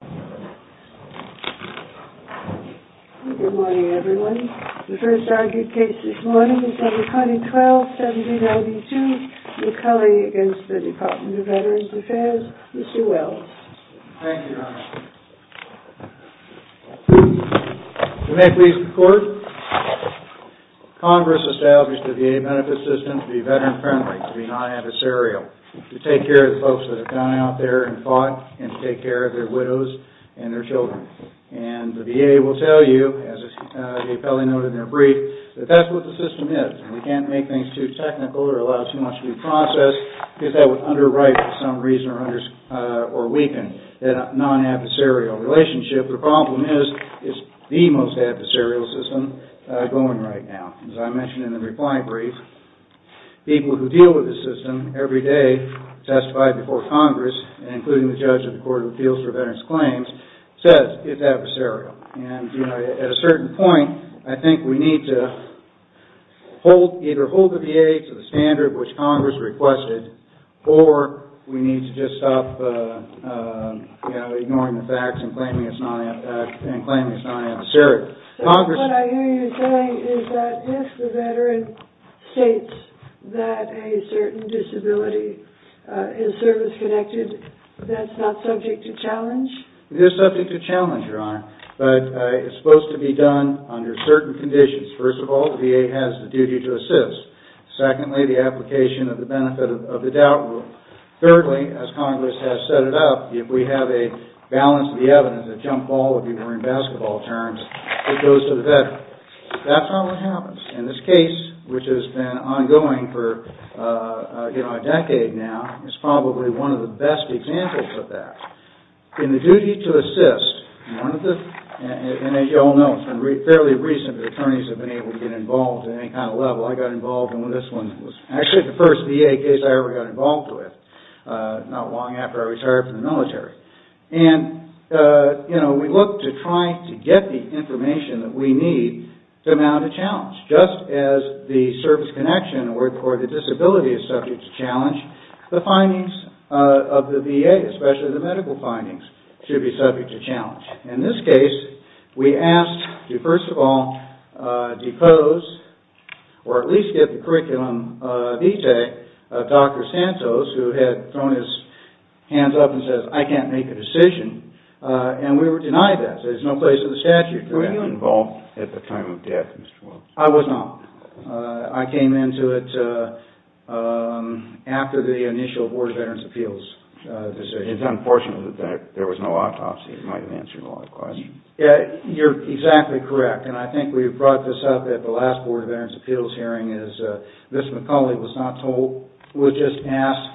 Good morning everyone. The first argued case this morning is under Codding 12-7092 McCulley v. Department of Veterans Affairs, Mr. Wells. Thank you, Your Honor. You may please record. Congress established the VA Benefit System to be veteran-friendly, to be non-adversarial, to take care of the folks that have gone out there and fought and to take care of their widows and their children. The VA will tell you, as the appellee noted in their brief, that that's what the system is. We can't make things too technical or allow too much to be processed because that would underwrite for some reason or weaken that non-adversarial relationship. The problem is, it's the most adversarial system going right now. As I mentioned in the reply brief, people who deal with the system every day testified before Congress, including the judge of the Court of Appeals for Veterans Claims, says it's adversarial. At a certain point, I think we need to either hold the VA to the standard which Congress requested or we need to just stop ignoring the facts and claiming it's non-adversarial. What I hear you saying is that if the veteran states that a certain disability is service-connected, that's not subject to challenge? It is subject to challenge, Your Honor, but it's supposed to be done under certain conditions. First of all, the VA has the duty to assist. Secondly, the application of the benefit of the doubt rule. Thirdly, as Congress has set it up, if we have a balance of the evidence, a jump ball, if you were in basketball terms, it goes to the veteran. That's not what happens. In this case, which has been ongoing for a decade now, it's probably one of the best examples of that. In the duty to assist, and as you all know, it's been fairly recent that attorneys have been able to get involved in any kind of level. I got involved in this one. It was actually the first VA case I ever got involved with, not long after I retired from the military. We look to try to get the information that we need to mount a challenge. Just as the service connection or the disability is subject to challenge, the findings of the VA, especially the medical findings, should be subject to challenge. In this case, we asked to first of all depose, or at least get the curriculum vitae of Dr. Santos, who had thrown his hands up and said, I can't make a decision. We were denied that. There's no place in the statute for that. Were you involved at the time of death, Mr. Wilkes? I was not. I came into it after the initial Board of Veterans' Appeals decision. It's unfortunate that there was no autopsy. It might have answered a lot of questions. You're exactly correct. I think we brought this up at the last Board of Veterans' Appeals hearing. Ms. McCauley was just asked,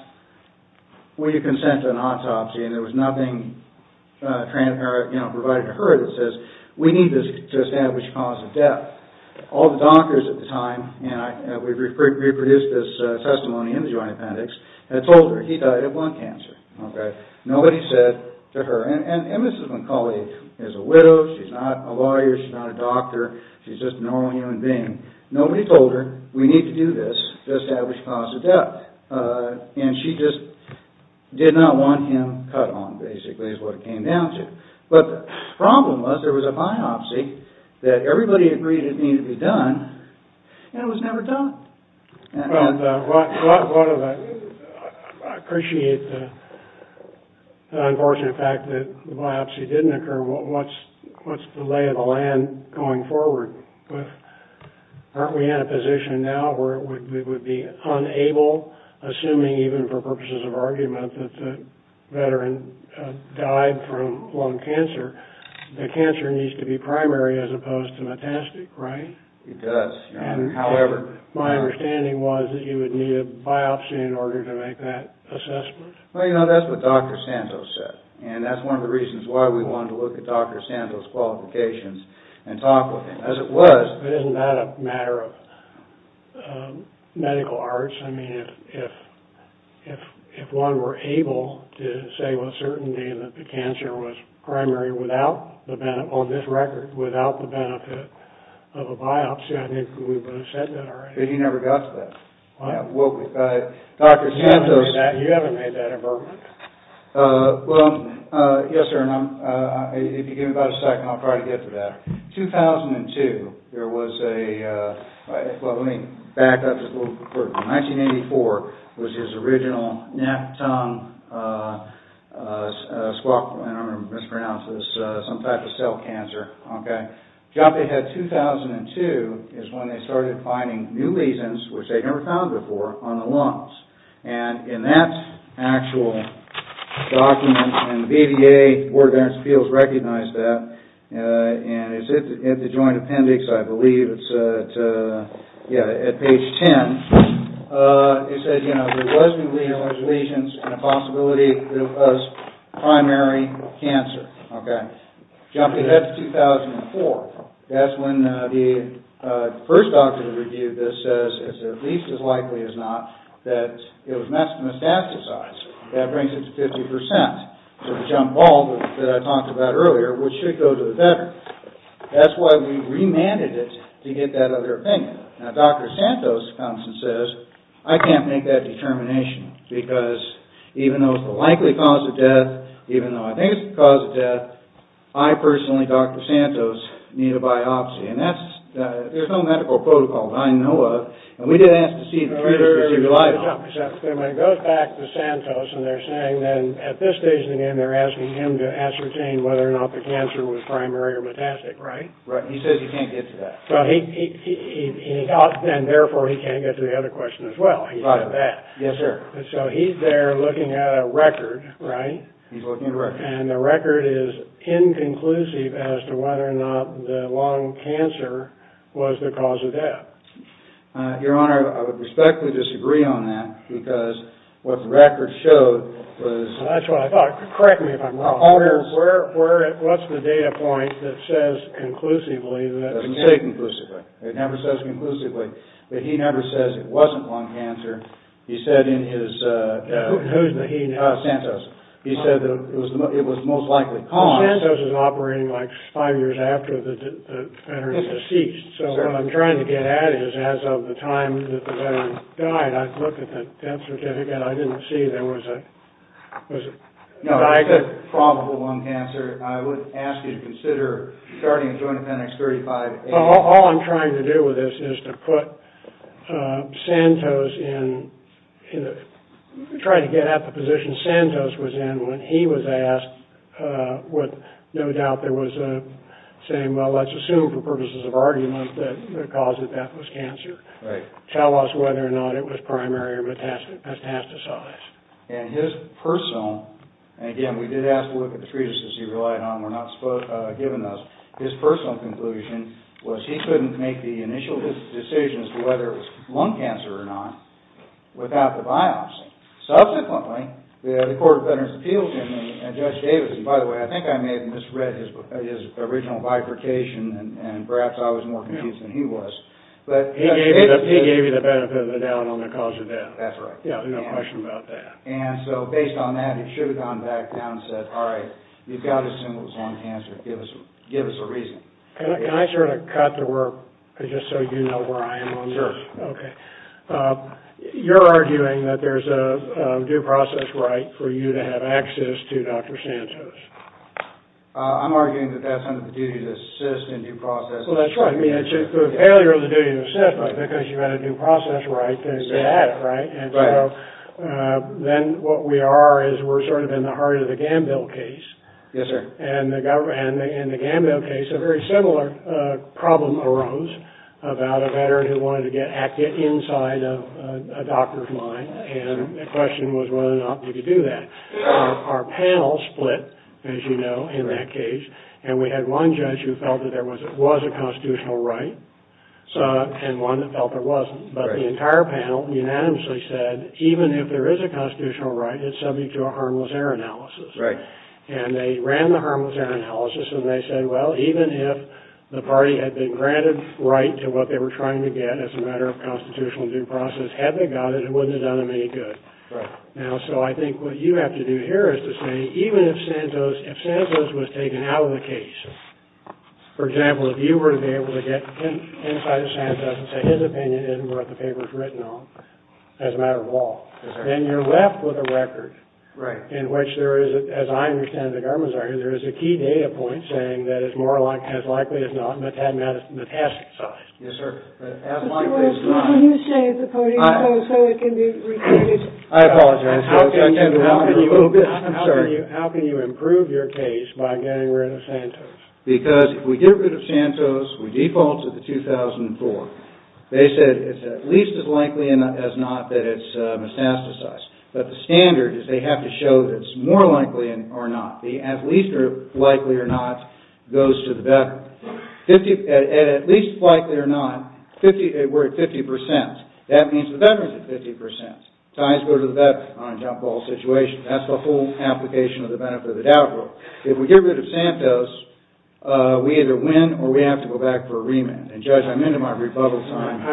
will you consent to an autopsy? There was nothing provided to her that says, we need this to establish a cause of death. All the doctors at the time, and we reproduced this testimony in the Joint Appendix, had told her he died of lung cancer. Nobody said to her, and Ms. McCauley is a widow, she's not a lawyer, she's not a doctor, she's just a normal human being. Nobody told her, we need to do this to establish cause of death. And she just did not want him cut on, basically, is what it came down to. But the problem was, there was a biopsy that everybody agreed it needed to be done, and it was never done. I appreciate the unfortunate fact that the biopsy didn't occur. What's the lay of the land going forward? Aren't we in a position now where we would be unable, assuming even for purposes of argument, that the veteran died from lung cancer? The cancer needs to be primary as opposed to metastatic, right? It does. However... My understanding was that you would need a biopsy in order to make that assessment. Well, you know, that's what Dr. Santos said, and that's one of the reasons why we wanted to look at Dr. Santos' qualifications and talk with him. As it was... But isn't that a matter of medical arts? I mean, if one were able to say with certainty that the cancer was primary without, on this record, without the benefit of a biopsy, I think we would have said that already. But he never got to that. What? Well, Dr. Santos... You haven't made that, you haven't made that avertment. Well, yes, sir, and if you give me about a second, I'll try to get to that. 2002, there was a... Well, let me back up just a little bit. 1984 was his original neck, tongue, squawk, and I'm going to mispronounce this, some type of cell cancer, okay? The job they had in 2002 is when they started finding new lesions, which they'd never found before, on the lungs. And in that actual document, and the BVA, the Board of Veterans Appeals, recognized that, and it's in the Joint Appendix, I believe, it's at, yeah, at page 10, it says, you know, there was new lesions and a possibility it was primary cancer, okay? Jumping ahead to 2004, that's when the first doctor that reviewed this says, it's at least as likely as not, that it was metastasized. That brings it to 50%. To the jump ball that I talked about earlier, which should go to the veteran. That's why we remanded it to get that other opinion. Now, Dr. Santos comes and says, I can't make that determination, because even though it's the likely cause of death, even though I think it's the cause of death, I personally, Dr. Santos, need a biopsy. And that's, there's no medical protocol that I know of, and we did ask to see... It goes back to Santos, and they're saying then, at this stage in the game, they're asking him to ascertain whether or not the cancer was primary or metastatic, right? Right. He says he can't get to that. And therefore, he can't get to the other question as well. He said that. Yes, sir. So he's there looking at a record, right? He's looking at a record. And the record is inconclusive as to whether or not the lung cancer was the cause of death. Your Honor, I would respectfully disagree on that, because what the record showed was... That's what I thought. Correct me if I'm wrong. What's the data point that says conclusively that... It doesn't say conclusively. It never says conclusively. But he never says it wasn't lung cancer. He said in his... Who's the he now? Santos. He said that it was most likely cause... So what I'm trying to get at is, as of the time that the veteran died, I looked at the death certificate. I didn't see there was a... No, it said probable lung cancer. I would ask you to consider starting a joint appendix 35A. All I'm trying to do with this is to put Santos in... Try to get at the position Santos was in when he was asked what... Saying, well, let's assume for purposes of argument that the cause of death was cancer. Tell us whether or not it was primary or metastasized. And his personal... And again, we did ask to look at the treatises he relied on. We're not given those. His personal conclusion was he couldn't make the initial decisions to whether it was lung cancer or not without the biopsy. Subsequently, the Court of Veterans Appeals and Judge Davis... And perhaps I was more confused than he was. He gave you the benefit of the doubt on the cause of death. That's right. Yeah, no question about that. And so based on that, he should have gone back down and said, all right, you've got to assume it was lung cancer. Give us a reason. Can I sort of cut to work just so you know where I am on this? Sure. Okay. You're arguing that there's a due process right for you to have access to Dr. Santos. I'm arguing that that's under the duty to assist in due process. Well, that's right. I mean, it's a failure of the duty to assist, but because you had a due process right, you had it, right? Right. And so then what we are is we're sort of in the heart of the Gambill case. Yes, sir. And in the Gambill case, a very similar problem arose about a veteran who wanted to get active inside a doctor's line. And the question was whether or not we could do that. Our panel split, as you know, in that case, and we had one judge who felt that there was a constitutional right and one that felt there wasn't. But the entire panel unanimously said, even if there is a constitutional right, it's subject to a harmless error analysis. Right. And they ran the harmless error analysis, and they said, well, even if the party had been granted right to what they were trying to get as a matter of constitutional due process, had they got it, it wouldn't have done them any good. Right. Now, so I think what you have to do here is to say, even if Santos was taken out of the case, for example, if you were to be able to get inside of Santos and say his opinion isn't what the paper's written on as a matter of law, then you're left with a record in which there is, as I understand it, the government's argument, there is a key data point saying that it's more likely as not metastasized. Yes, sir. As likely as not. Mr. Wilson, when you say the party opposed, so it can be repeated. I apologize. How can you improve your case by getting rid of Santos? Because if we get rid of Santos, we default to the 2004. They said it's at least as likely as not that it's metastasized. But the standard is they have to show that it's more likely or not. The at least likely or not goes to the veteran. At least likely or not, we're at 50%. That means the veteran's at 50%. Ties go to the veteran on a jump ball situation. That's the whole application of the benefit of the doubt rule. If we get rid of Santos, we either win or we have to go back for a remand. And, Judge, I'm into my rebuttal time. I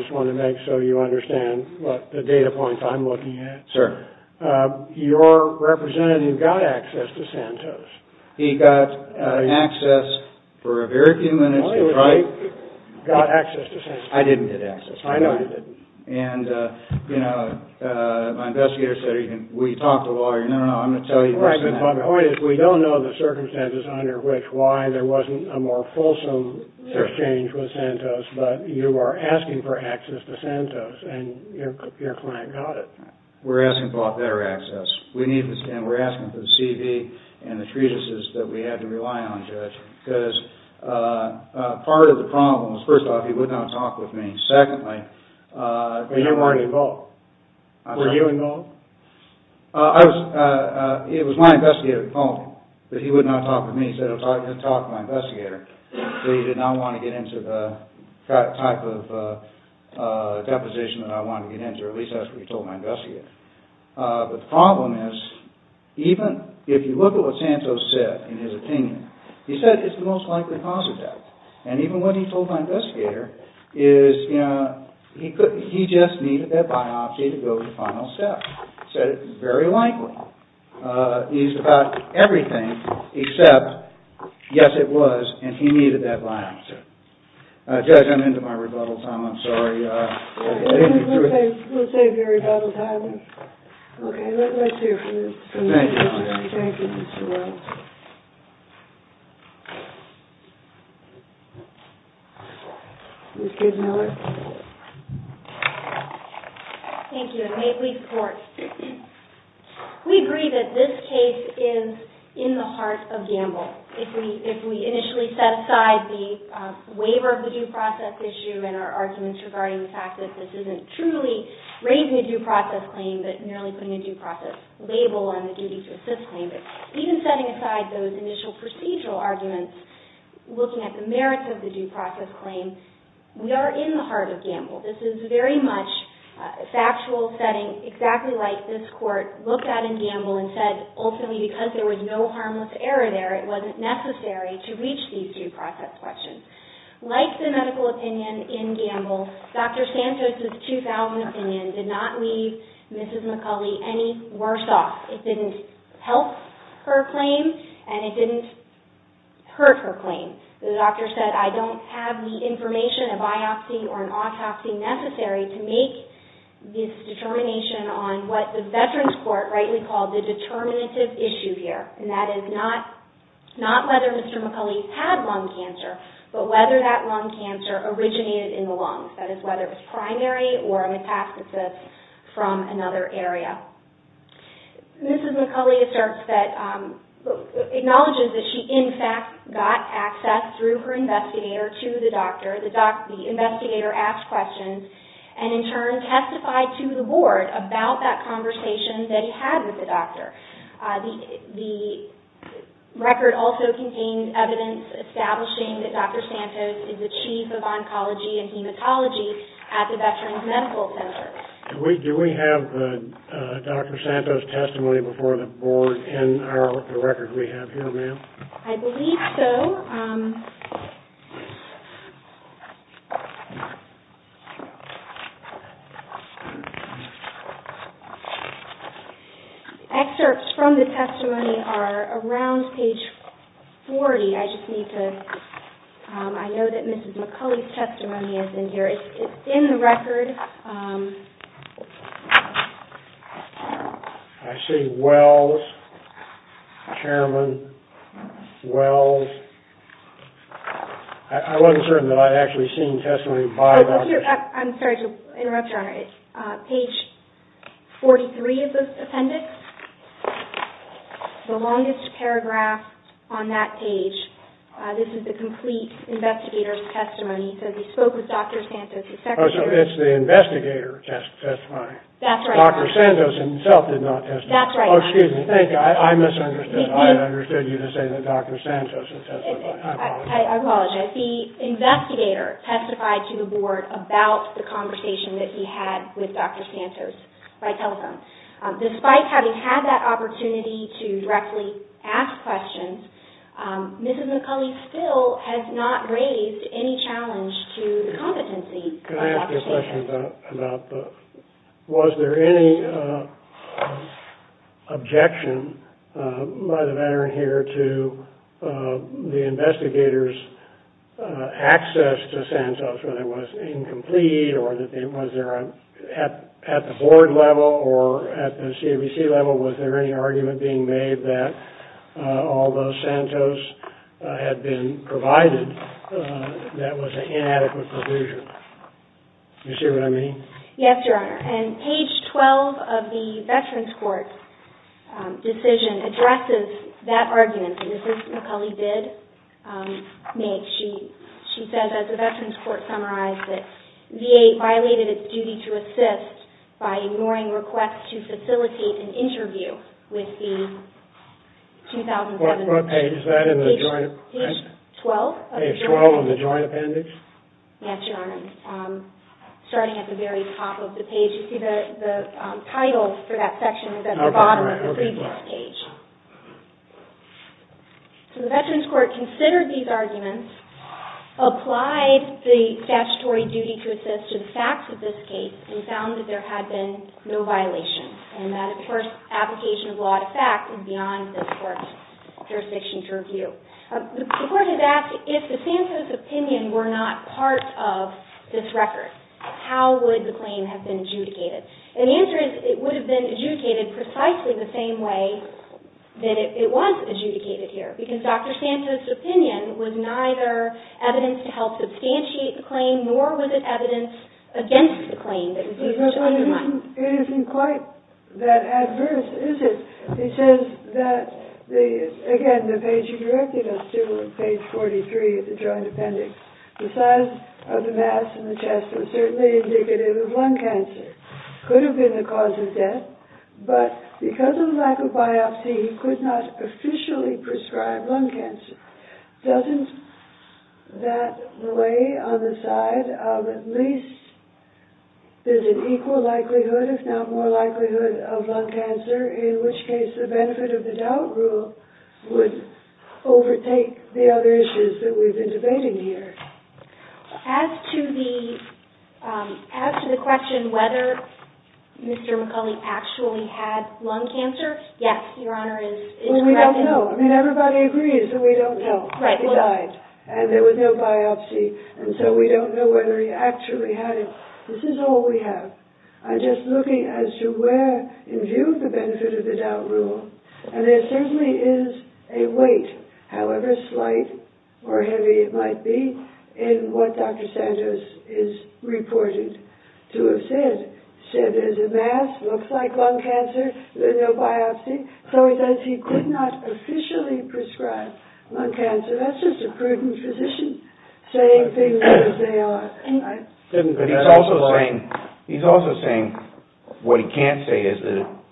just want to make sure you understand the data points I'm looking at. Sir. Your representative got access to Santos. He got access for a very few minutes. He got access to Santos. I didn't get access. I know you didn't. And, you know, my investigator said, we talked to a lawyer. No, no, no. I'm going to tell you. The point is we don't know the circumstances under which why there wasn't a more fulsome exchange with Santos. But you are asking for access to Santos. And your client got it. We're asking for better access. And we're asking for the CV and the treatises that we had to rely on, Judge. Because part of the problem was, first off, he would not talk with me. Secondly, But you weren't involved. Were you involved? It was my investigator's fault that he would not talk with me. He said he was going to talk to my investigator. So he did not want to get into the type of deposition that I wanted to get into. At least that's what he told my investigator. But the problem is, even if you look at what Santos said in his opinion, he said it's the most likely cause of death. And even what he told my investigator is, you know, he just needed that biopsy to go to final steps. He said it's very likely. He's about everything except, yes, it was, and he needed that biopsy. Judge, I'm into my rebuttal time. I'm sorry. We'll save your rebuttal time. Okay, let's hear from this. Thank you. Thank you, Mr. Williams. Ms. Case Miller. Thank you, and may it please the Court. We agree that this case is in the heart of gamble. If we initially set aside the waiver of the due process issue and our arguments regarding the fact that this isn't truly raising a due process claim, but merely putting a due process label on the duty to assist claim, but even setting aside those initial procedural arguments, looking at the merits of the due process claim, we are in the heart of gamble. This is very much a factual setting, exactly like this Court looked at in gamble and said ultimately because there was no harmless error there, it wasn't necessary to reach these due process questions. Like the medical opinion in gamble, Dr. Santos' 2000 opinion did not leave Mrs. McCulley any worse off. It didn't help her claim, and it didn't hurt her claim. The doctor said I don't have the information, a biopsy or an autopsy necessary to make this determination on what the Veterans Court rightly called the determinative issue here, and that is not whether Mr. McCulley had lung cancer, but whether that lung cancer originated in the lungs. That is whether it was primary or a metastasis from another area. Mrs. McCulley acknowledges that she in fact got access through her investigator to the doctor. The investigator asked questions and in turn testified to the board The record also contained evidence establishing that Dr. Santos is the chief of oncology and hematology at the Veterans Medical Center. Do we have Dr. Santos' testimony before the board in the record we have here, ma'am? I believe so. Excerpts from the testimony are around page 40. I know that Mrs. McCulley's testimony is in here. I see Wells, Chairman Wells. I wasn't certain that I'd actually seen testimony by Dr. Santos. I'm sorry to interrupt, Your Honor. It's page 43 of the appendix, the longest paragraph on that page. This is the complete investigator's testimony. He said he spoke with Dr. Santos. Oh, so it's the investigator testifying. Dr. Santos himself did not testify. Oh, excuse me. I misunderstood. I understood you to say that Dr. Santos testified. I apologize. The investigator testified to the board about the conversation that he had with Dr. Santos by telephone. Despite having had that opportunity to directly ask questions, Mrs. McCulley still has not raised any challenge to the competency of Dr. Santos. Can I ask you a question about that? Was there any objection by the veteran here to the investigator's access to Santos, whether it was incomplete or was there at the board level or at the CAVC level, was there any argument being made that although Santos had been provided, that was an inadequate provision? Do you see what I mean? Yes, Your Honor. And page 12 of the Veterans Court decision addresses that argument. And this is what McCulley did make. She said, as the Veterans Court summarized it, VA violated its duty to assist by ignoring requests to facilitate an interview with the 2011 Veterans Court. What page is that in the joint appendix? Page 12. Page 12 in the joint appendix? Yes, Your Honor. Starting at the very top of the page. You see the title for that section is at the bottom of the previous page. So the Veterans Court considered these arguments, applied the statutory duty to assist to the facts of this case, and found that there had been no violations. And that, of course, application of law to fact is beyond this Court's jurisdiction to review. The Court has asked, if the Santos opinion were not part of this record, how would the claim have been adjudicated? And the answer is it would have been adjudicated precisely the same way that it was adjudicated here, because Dr. Santos' opinion was neither evidence to help substantiate the claim, nor was it evidence against the claim that was used to undermine it. It isn't quite that adverse, is it? He says that, again, the page he directed us to, page 43 of the joint appendix, the size of the mass in the chest was certainly indicative of lung cancer. It could have been the cause of death, but because of the lack of biopsy, he could not officially prescribe lung cancer. Doesn't that lay on the side of at least there's an equal likelihood, if not more likelihood, of lung cancer, in which case the benefit of the doubt rule would overtake the other issues that we've been debating here? As to the question whether Mr. McCulley actually had lung cancer, yes, Your Honor, is correct. Well, we don't know. I mean, everybody agrees that we don't know. He died, and there was no biopsy, and so we don't know whether he actually had it. This is all we have. I'm just looking as to where, in view of the benefit of the doubt rule, and there certainly is a weight, however slight or heavy it might be, in what Dr. Santos is reporting to have said. Said there's a mass, looks like lung cancer, there's no biopsy. So he says he could not officially prescribe lung cancer. That's just a prudent physician saying things as they are. He's also saying what he can't say is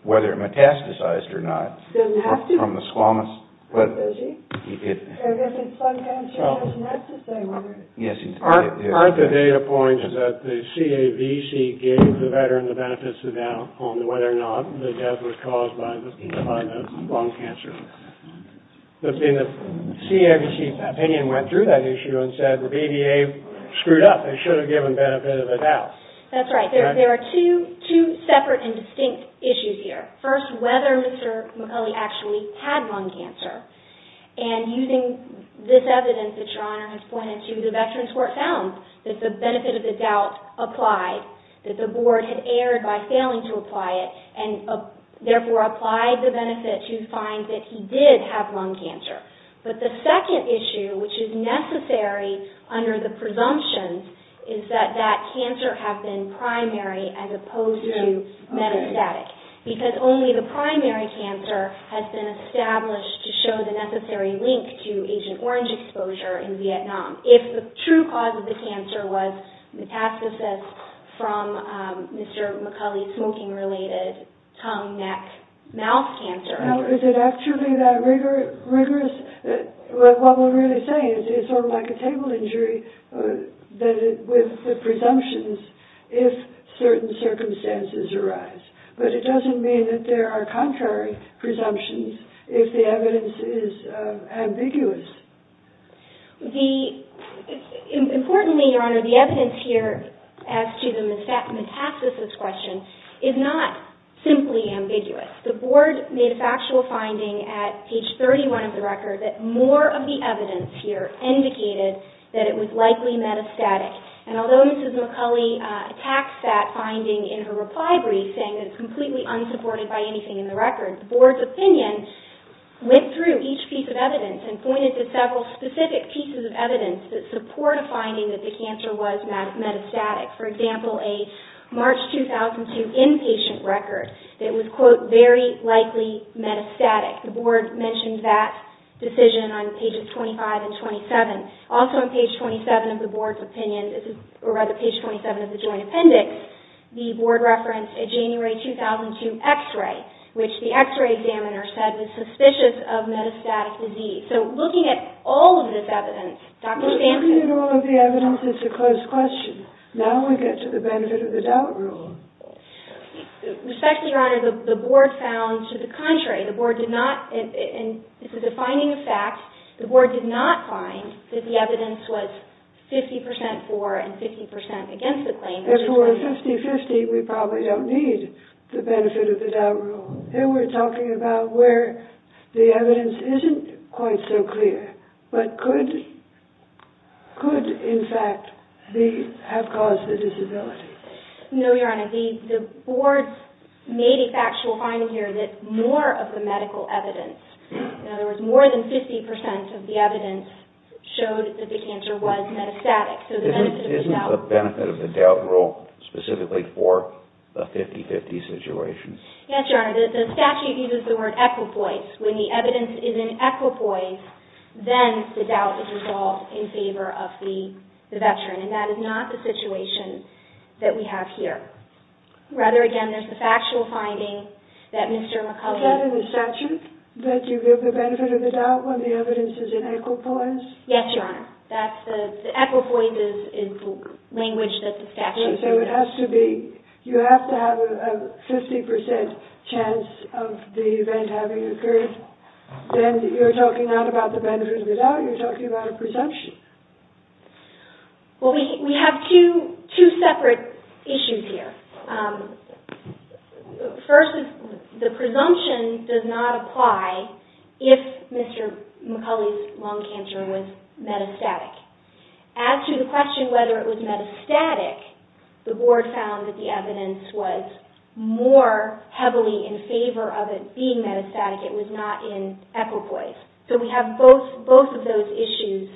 whether it metastasized or not. Doesn't have to. From the squamous. Does he? I guess it's lung cancer that's necessary. Yes. Aren't the data points that the CAVC gave the veteran the benefits of doubt on whether or not the death was caused by the lung cancer? The CAVC opinion went through that issue and said the BVA screwed up. They should have given benefit of the doubt. That's right. There are two separate and distinct issues here. First, whether Mr. McCulley actually had lung cancer. And using this evidence that Your Honor has pointed to, the Veterans Court found that the benefit of the doubt applied, that the board had erred by failing to apply it and therefore applied the benefit to find that he did have lung cancer. But the second issue, which is necessary under the presumption, is that that cancer has been primary as opposed to metastatic. Because only the primary cancer has been established to show the necessary link to Agent Orange exposure in Vietnam. If the true cause of the cancer was metastasis from Mr. McCulley's smoking-related tongue, neck, mouth cancer. Now, is it actually that rigorous? What we're really saying is it's sort of like a table injury with the presumptions if certain circumstances arise. But it doesn't mean that there are contrary presumptions if the evidence is ambiguous. Importantly, Your Honor, the evidence here as to the metastasis question is not simply ambiguous. The board made a factual finding at page 31 of the record that more of the evidence here indicated that it was likely metastatic. And although Mrs. McCulley attacks that finding in her reply brief saying that it's completely unsupported by anything in the record, the board's opinion went through each piece of evidence and pointed to several specific pieces of evidence that support a finding that the cancer was metastatic. For example, a March 2002 inpatient record that was, quote, very likely metastatic. The board mentioned that decision on pages 25 and 27. Also on page 27 of the board's opinion, or rather page 27 of the joint appendix, the board referenced a January 2002 x-ray, which the x-ray examiner said was suspicious of metastatic disease. So looking at all of this evidence, Dr. Sampson... Looking at all of the evidence, it's a closed question. Now we get to the benefit of the doubt rule. Respectfully, Your Honor, the board found to the contrary. The board did not, and this is a finding of fact, the board did not find that the evidence was 50 percent for and 50 percent against the claim. If it were 50-50, we probably don't need the benefit of the doubt rule. Here we're talking about where the evidence isn't quite so clear, but could, in fact, have caused the disability. No, Your Honor, the board made a factual finding here that more of the medical evidence, in other words, more than 50 percent of the evidence, showed that the cancer was metastatic. Isn't the benefit of the doubt rule specifically for the 50-50 situation? Yes, Your Honor, the statute uses the word equipoise. When the evidence is in equipoise, then the doubt is resolved in favor of the veteran, and that is not the situation that we have here. Rather, again, there's the factual finding that Mr. McCullough... Is that in the statute, that you give the benefit of the doubt when the evidence is in equipoise? Yes, Your Honor, the equipoise is the language that the statute uses. So it has to be, you have to have a 50 percent chance of the event having occurred, then you're talking not about the benefit of the doubt, you're talking about a presumption. Well, we have two separate issues here. First, the presumption does not apply if Mr. McCullough's lung cancer was metastatic. As to the question whether it was metastatic, the board found that the evidence was more heavily in favor of it being metastatic. It was not in equipoise. So we have both of those issues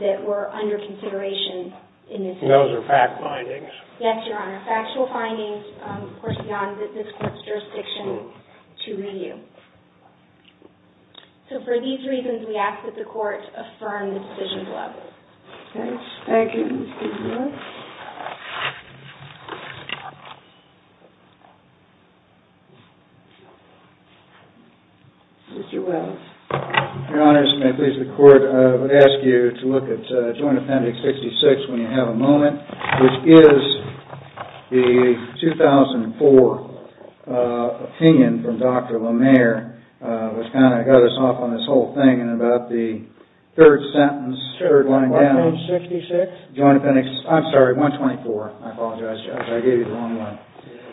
that were under consideration in this case. Those are fact findings? Yes, Your Honor. Factual findings, of course, beyond this court's jurisdiction to review. So for these reasons, we ask that the court affirm the decision level. Okay, thank you. Mr. Wells. Your Honors, may it please the court, I would ask you to look at Joint Appendix 66 when you have a moment, which is the 2004 opinion from Dr. Lemaire, which kind of got us off on this whole thing and about the third sentence, third one down. Joint Appendix 66? Joint Appendix, I'm sorry, 124. I apologize, Judge, I gave you the wrong one.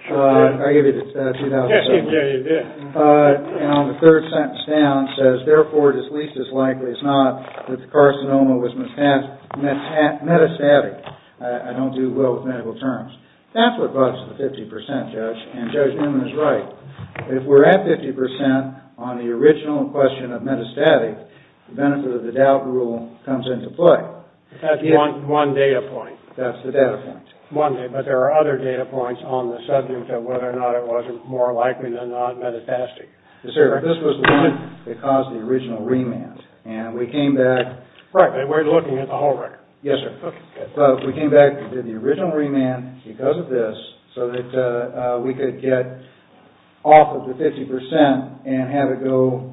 I gave you the 2007 one. Yes, you did. And on the third sentence down, it says, Therefore, it is least as likely as not that the carcinoma was metastatic. I don't do well with medical terms. That's what brought us to the 50%, Judge. And Judge Newman is right. If we're at 50% on the original question of metastatic, the benefit of the doubt rule comes into play. That's one data point. That's the data point. But there are other data points on the subject of whether or not it was more likely than not metastatic. Yes, sir. This was the one that caused the original remand. And we came back. Right. And we're looking at the whole record. Yes, sir. Okay, good. We came back and did the original remand because of this so that we could get off of the 50% and have it go,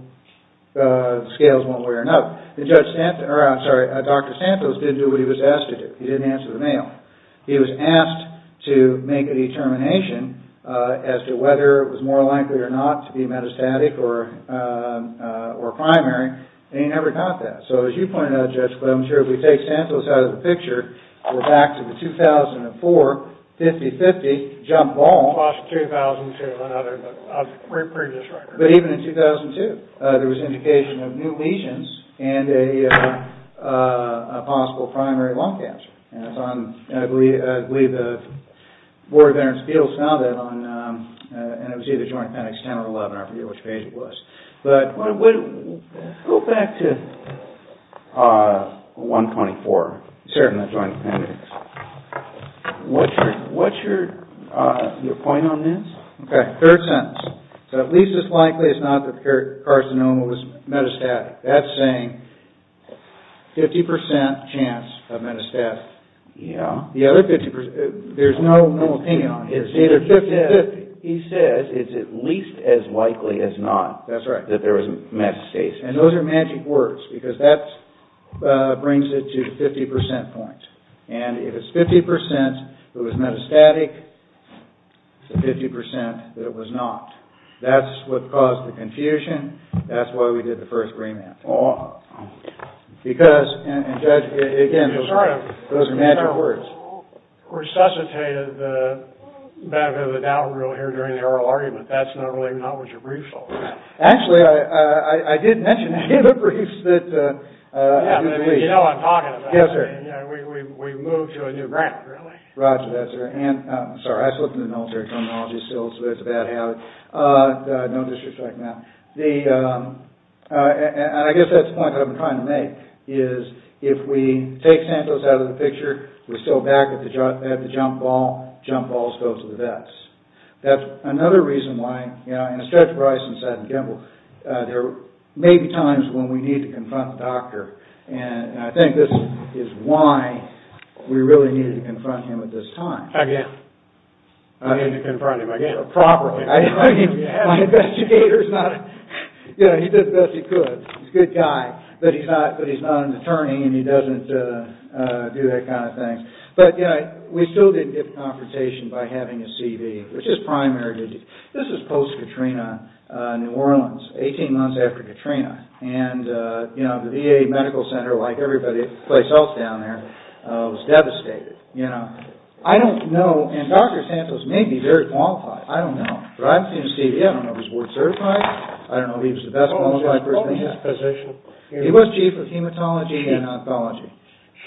the scales won't wear enough. Dr. Santos didn't do what he was asked to do. He didn't answer the mail. He was asked to make a determination as to whether it was more likely or not to be metastatic or primary, and he never got that. So as you pointed out, Judge, I'm sure if we take Santos out of the picture, we're back to the 2004 50-50 jump ball. Plus 2002 and other. But even in 2002, there was indication of new lesions and a possible primary lung cancer. I believe the Board of Veterans' Appeals found that on, and it was either joint appendix 10 or 11. I forget which page it was. Go back to 124. Certainly. Joint appendix. What's your point on this? Okay, third sentence. So at least as likely as not the carcinoma was metastatic. That's saying 50% chance of metastatic. The other 50%, there's no opinion on it. It's either 50-50. He says it's at least as likely as not that there was metastasis. And those are magic words, because that brings it to the 50% point. And if it's 50% that it was metastatic, it's 50% that it was not. That's what caused the confusion. That's why we did the first remand. Because, again, those are magic words. You sort of resuscitated the benefit of the doubt rule here during the oral argument. That's not really what your brief's all about. Actually, I did mention in the briefs that... You know what I'm talking about. Yes, sir. We've moved to a new ground, really. Roger that, sir. Sorry, I slipped into military terminology, so it's a bad habit. No disrespect, ma'am. And I guess that's the point that I've been trying to make. If we take Santos out of the picture, we're still back at the jump ball. Jump balls go to the vets. That's another reason why, you know, in a stretch of rice and sand and gimble, there may be times when we need to confront the doctor. And I think this is why we really needed to confront him at this time. Again. I need to confront him again. Properly. I mean, my investigator's not... You know, he did the best he could. He's a good guy, but he's not an attorney and he doesn't do that kind of thing. But, you know, we still didn't get the confrontation by having a CV, which is primary. This is post-Katrina, New Orleans, 18 months after Katrina. And, you know, the VA Medical Center, like every place else down there, was devastated. You know, I don't know, and Dr. Santos may be very qualified. I don't know. But I've seen his CV. I don't know if he's board certified. I don't know if he was the best qualified person yet. What was his position? He was Chief of Hematology and Oncology.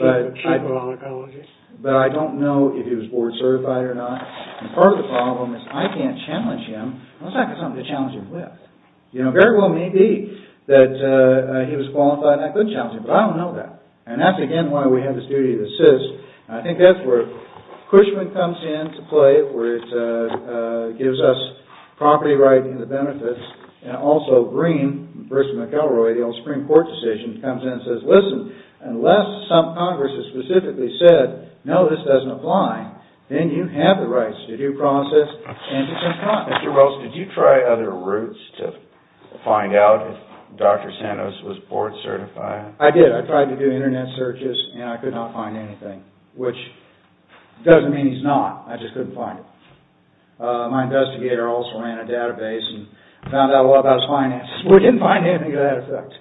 Chief of Oncology. But I don't know if he was board certified or not. And part of the problem is I can't challenge him. Unless I've got something to challenge him with. You know, it very well may be that he was qualified and I could challenge him. But I don't know that. And that's, again, why we have this duty to assist. I think that's where Cushman comes in to play, where it gives us property rights and the benefits. And also Green versus McElroy, the old Supreme Court decision, comes in and says, Listen, unless some Congress has specifically said, no, this doesn't apply, then you have the rights to due process and it's incontinent. Mr. Wells, did you try other routes to find out if Dr. Santos was board certified? I did. I tried to do Internet searches and I could not find anything. Which doesn't mean he's not. I just couldn't find him. My investigator also ran a database and found out a lot about his finances. We didn't find anything to that effect.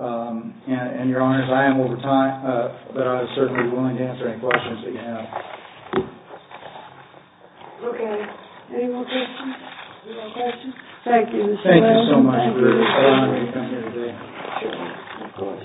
And, Your Honors, I am over time, but I was certainly willing to answer any questions that you have. Okay. Any more questions? No questions. Thank you, Mr. Wells. Thank you so much for allowing me to come here today. Sure.